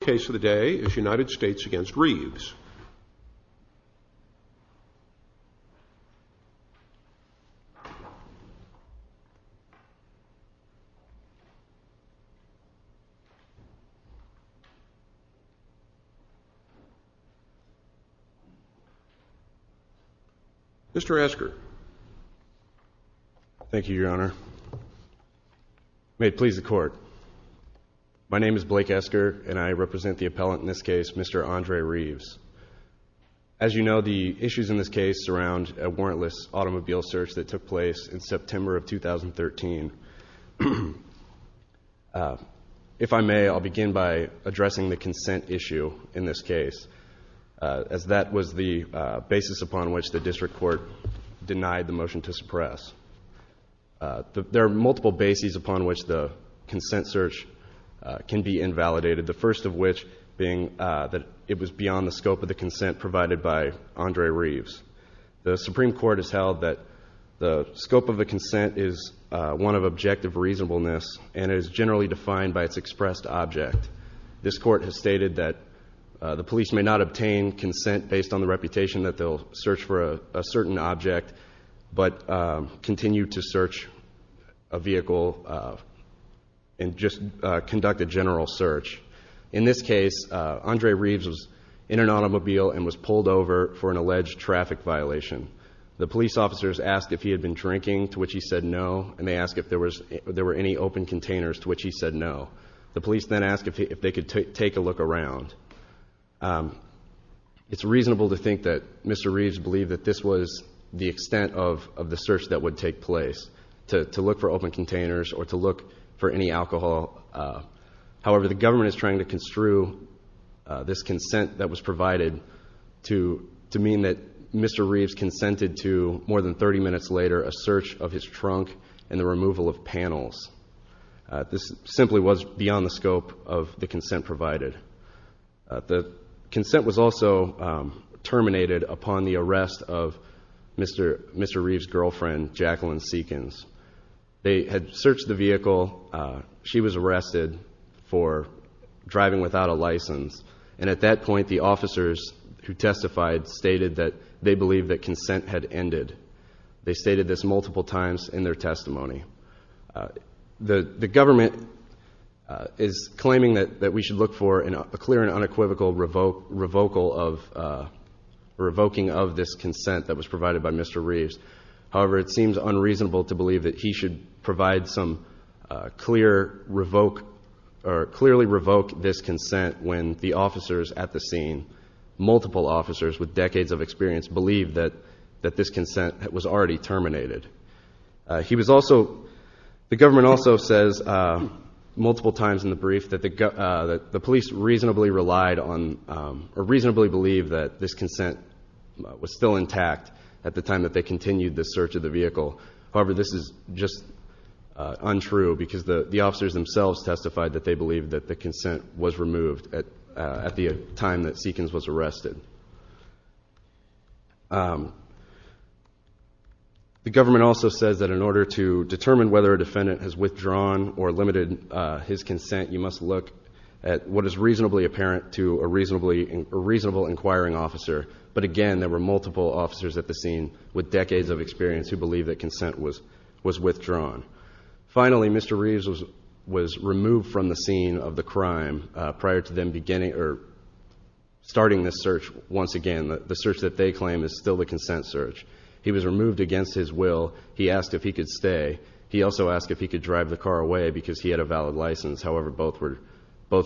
The case of the day is United States v. Reaves Mr. Esker Thank you, your honor May it please the court My name is Blake Esker, and I represent the appellant in this case, Mr. Andre Reaves As you know, the issues in this case surround a warrantless automobile search that took place in September of 2013 If I may, I'll begin by addressing the consent issue in this case, as that was the basis upon which the district court denied the motion to suppress There are multiple bases upon which the consent search can be invalidated, the first of which being that it was beyond the scope of the consent provided by Andre Reaves The Supreme Court has held that the scope of the consent is one of objective reasonableness and is generally defined by its expressed object This court has stated that the police may not obtain consent based on the reputation that they'll search for a certain object, but continue to search a vehicle and just conduct a general search In this case, Andre Reaves was in an automobile and was pulled over for an alleged traffic violation The police officers asked if he had been drinking, to which he said no, and they asked if there were any open containers, to which he said no The police then asked if they could take a look around It's reasonable to think that Mr. Reaves believed that this was the extent of the search that would take place, to look for open containers or to look for any alcohol However, the government is trying to construe this consent that was provided to mean that Mr. Reaves consented to, more than 30 minutes later, a search of his trunk and the removal of panels This simply was beyond the scope of the consent provided The consent was also terminated upon the arrest of Mr. Reaves' girlfriend, Jacqueline Seekins They had searched the vehicle, she was arrested for driving without a license, and at that point the officers who testified stated that they believed that consent had ended They stated this multiple times in their testimony The government is claiming that we should look for a clear and unequivocal revoking of this consent that was provided by Mr. Reaves However, it seems unreasonable to believe that he should clearly revoke this consent when the officers at the scene, multiple officers with decades of experience, believe that this consent was already terminated The government also says, multiple times in the brief, that the police reasonably believed that this consent was still intact at the time that they continued the search of the vehicle However, this is just untrue, because the officers themselves testified that they believed that the consent was removed at the time that Seekins was arrested The government also says that in order to determine whether a defendant has withdrawn or limited his consent, you must look at what is reasonably apparent to a reasonable inquiring officer But again, there were multiple officers at the scene with decades of experience who believed that consent was withdrawn Finally, Mr. Reaves was removed from the scene of the crime prior to them starting this search once again The search that they claim is still the consent search He was removed against his will He asked if he could stay He also asked if he could drive the car away because he had a valid license However, both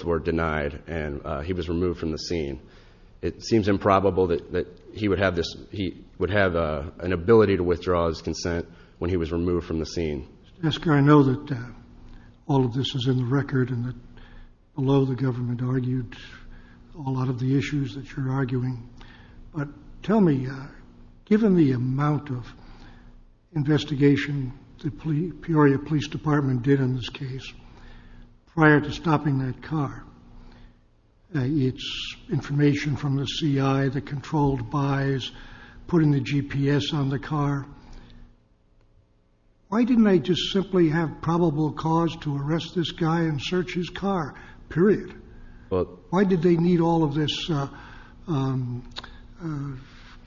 were denied and he was removed from the scene It seems improbable that he would have an ability to withdraw his consent when he was Esker, I know that all of this is in the record and that below the government argued a lot of the issues that you're arguing But tell me, given the amount of investigation the Peoria Police Department did in this case prior to stopping that car, its information from the CI, the controlled buys, putting the GPS on the car Why didn't they just simply have probable cause to arrest this guy and search his car? Period Why did they need all of this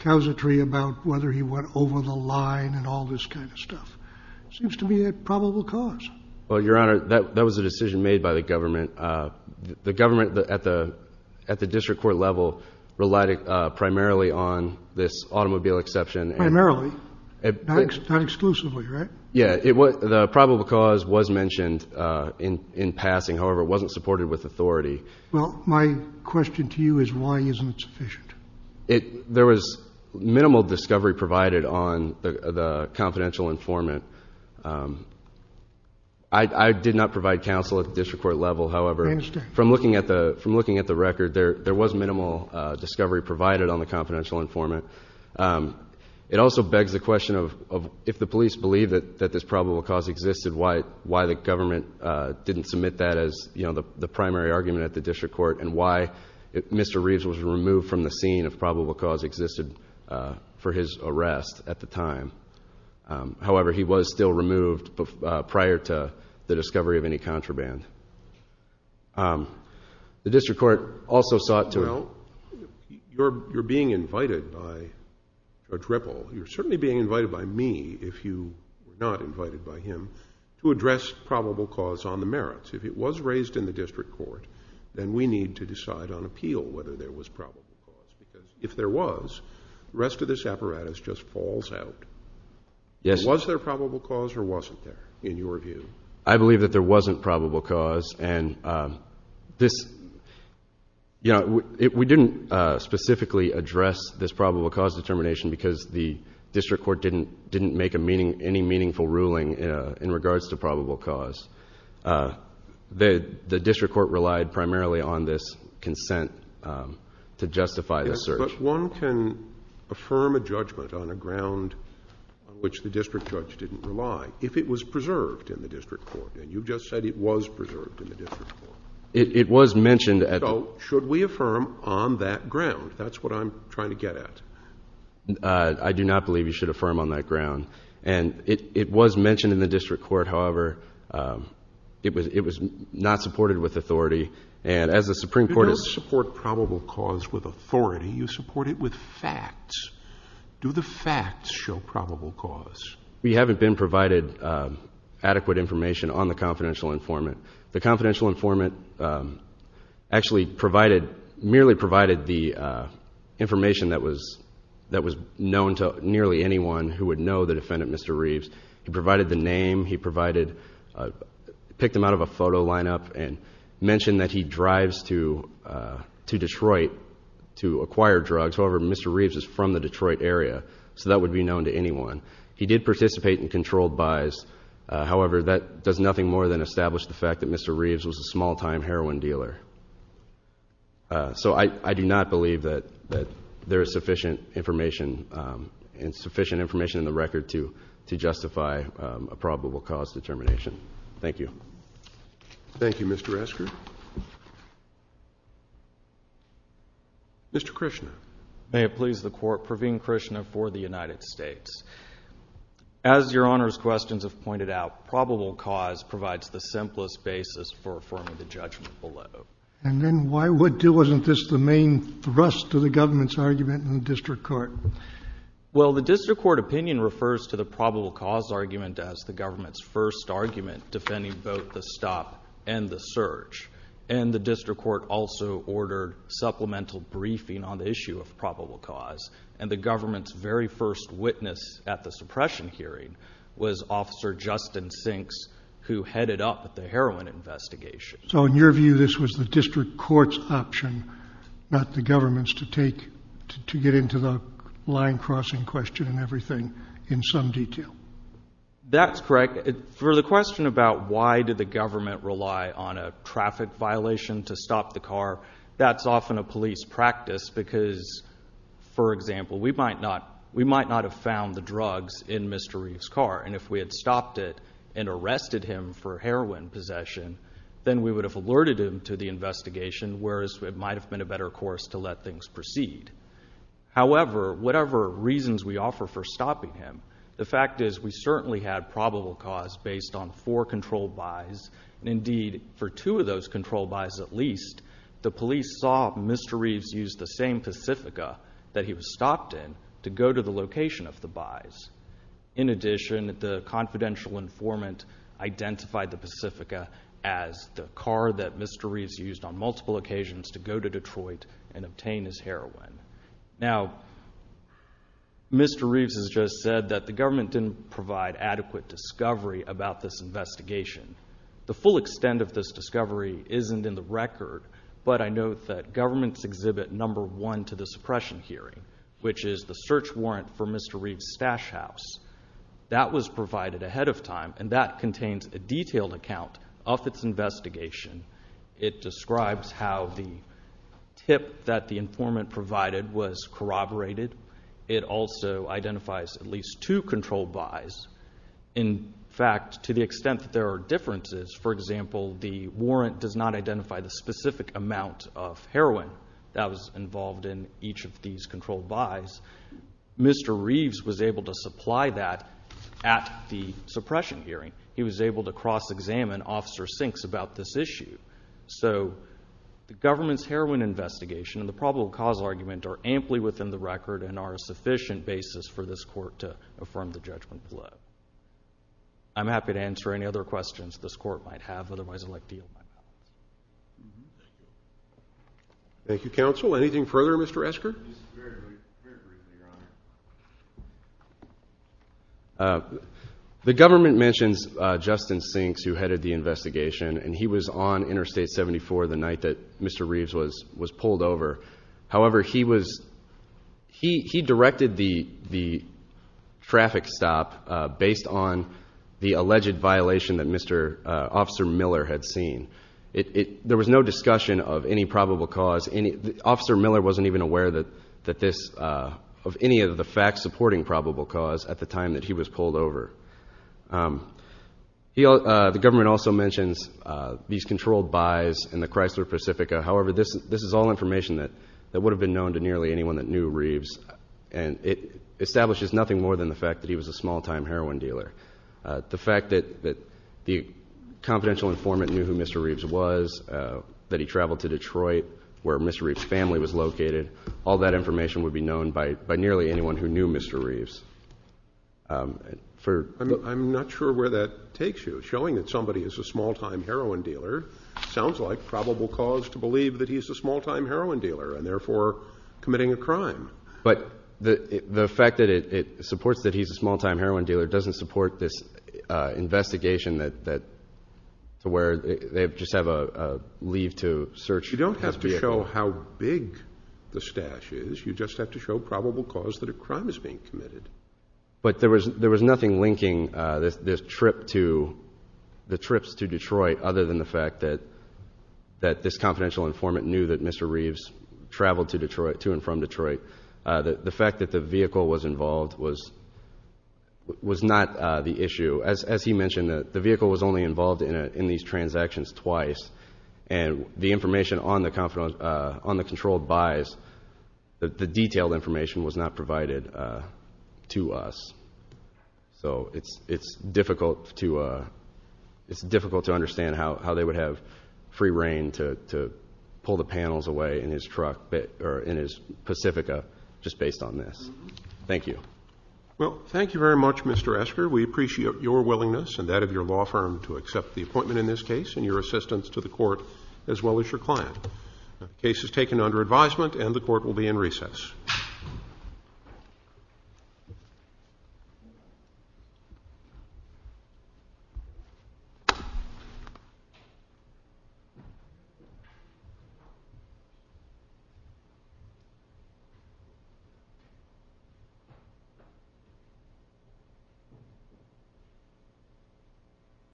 causatory about whether he went over the line and all this kind of stuff? It seems to be a probable cause Well, Your Honor, that was a decision made by the government The government at the district court level relied primarily on this automobile exception Primarily? Not exclusively, right? Yeah, the probable cause was mentioned in passing, however, it wasn't supported with authority Well, my question to you is why isn't it sufficient? There was minimal discovery provided on the confidential informant I did not provide counsel at the district court level, however From looking at the record, there was minimal discovery provided on the confidential informant It also begs the question of if the police believe that this probable cause existed, why the government didn't submit that as the primary argument at the district court and why Mr. Reeves was removed from the scene if probable cause existed for his arrest at the time However, he was still removed prior to the discovery of any contraband The district court also sought to Well, you're being invited by Judge Ripple, you're certainly being invited by me if you were not invited by him to address probable cause on the merits If it was raised in the district court, then we need to decide on appeal whether there was probable cause Because if there was, the rest of this apparatus just falls out Was there probable cause or wasn't there, in your view? I believe that there wasn't probable cause We didn't specifically address this probable cause determination because the district court didn't make any meaningful ruling in regards to probable cause The district court relied primarily on this consent to justify the search Yes, but one can affirm a judgment on a ground on which the district judge didn't rely if it was preserved in the district court, and you just said it was preserved in the district court It was mentioned So, should we affirm on that ground? That's what I'm trying to get at I do not believe you should affirm on that ground It was mentioned in the district court, however, it was not supported with authority You don't support probable cause with authority, you support it with facts Do the facts show probable cause? We haven't been provided adequate information on the confidential informant The confidential informant actually merely provided the information that was known to nearly anyone who would know the defendant, Mr. Reeves He provided the name, he picked him out of a photo lineup and mentioned that he drives to Detroit to acquire drugs, however, Mr. Reeves is from the Detroit area so that would be known to anyone He did participate in controlled buys, however, that does nothing more than establish the fact that Mr. Reeves was a small-time heroin dealer So, I do not believe that there is sufficient information in the record to justify a probable cause determination Thank you Thank you, Mr. Esker Mr. Krishna May it please the Court, Praveen Krishna for the United States As your Honor's questions have pointed out, probable cause provides the simplest basis for affirming the judgment below And then why wouldn't it? Wasn't this the main thrust to the government's argument in the district court? Well, the district court opinion refers to the probable cause argument as the government's first argument defending both the stop and the search And the district court also ordered supplemental briefing on the issue of probable cause And the government's very first witness at the suppression hearing was Officer Justin Sinks who headed up the heroin investigation So, in your view, this was the district court's option, not the government's, to take to get into the line crossing question and everything in some detail That's correct For the question about why did the government rely on a traffic violation to stop the car That's often a police practice because, for example, we might not have found the drugs in Mr. Reeves' car And if we had stopped it and arrested him for heroin possession then we would have alerted him to the investigation whereas it might have been a better course to let things proceed However, whatever reasons we offer for stopping him the fact is we certainly had probable cause based on four controlled buys Indeed, for two of those controlled buys at least the police saw Mr. Reeves use the same Pacifica that he was stopped in to go to the location of the buys In addition, the confidential informant identified the Pacifica as the car that Mr. Reeves used on multiple occasions to go to Detroit and obtain his heroin Now, Mr. Reeves has just said that the government didn't provide adequate discovery about this investigation The full extent of this discovery isn't in the record but I note that governments exhibit number one to the suppression hearing which is the search warrant for Mr. Reeves' stash house That was provided ahead of time and that contains a detailed account of its investigation It describes how the tip that the informant provided was corroborated It also identifies at least two controlled buys In fact, to the extent that there are differences for example, the warrant does not identify the specific amount of heroin that was involved in each of these controlled buys Mr. Reeves was able to supply that at the suppression hearing He was able to cross-examine Officer Sinks about this issue So, the government's heroin investigation and the probable cause argument are amply within the record and are a sufficient basis for this court to affirm the judgment below I'm happy to answer any other questions this court might have Otherwise, I'd like to yield my time Thank you, counsel. Anything further, Mr. Esker? This is very briefly, Your Honor The government mentions Justin Sinks who headed the investigation and he was on Interstate 74 the night that Mr. Reeves was pulled over However, he directed the traffic stop based on the alleged violation that Officer Miller had seen There was no discussion of any probable cause Officer Miller wasn't even aware of any of the facts supporting probable cause at the time that he was pulled over The government also mentions these controlled buys in the Chrysler Pacifica However, this is all information that would have been known to nearly anyone that knew Reeves and it establishes nothing more than the fact that he was a small-time heroin dealer The fact that the confidential informant knew who Mr. Reeves was that he traveled to Detroit where Mr. Reeves' family was located all that information would be known by nearly anyone who knew Mr. Reeves I'm not sure where that takes you Showing that somebody is a small-time heroin dealer sounds like probable cause to believe that he's a small-time heroin dealer and therefore committing a crime But the fact that it supports that he's a small-time heroin dealer doesn't support this investigation to where they just have a leave to search his vehicle You don't have to show how big the stash is You just have to show probable cause that a crime is being committed But there was nothing linking the trips to Detroit other than the fact that this confidential informant knew that Mr. Reeves traveled to and from Detroit The fact that the vehicle was involved was not the issue As he mentioned, the vehicle was only involved in these transactions twice and the information on the controlled buys the detailed information was not provided to us So it's difficult to understand how they would have free reign to pull the panels away in his Pacifica just based on this Thank you Well, thank you very much Mr. Esker We appreciate your willingness and that of your law firm to accept the appointment in this case and your assistance to the court as well as your client The case is taken under advisement and the court will be in recess Thank you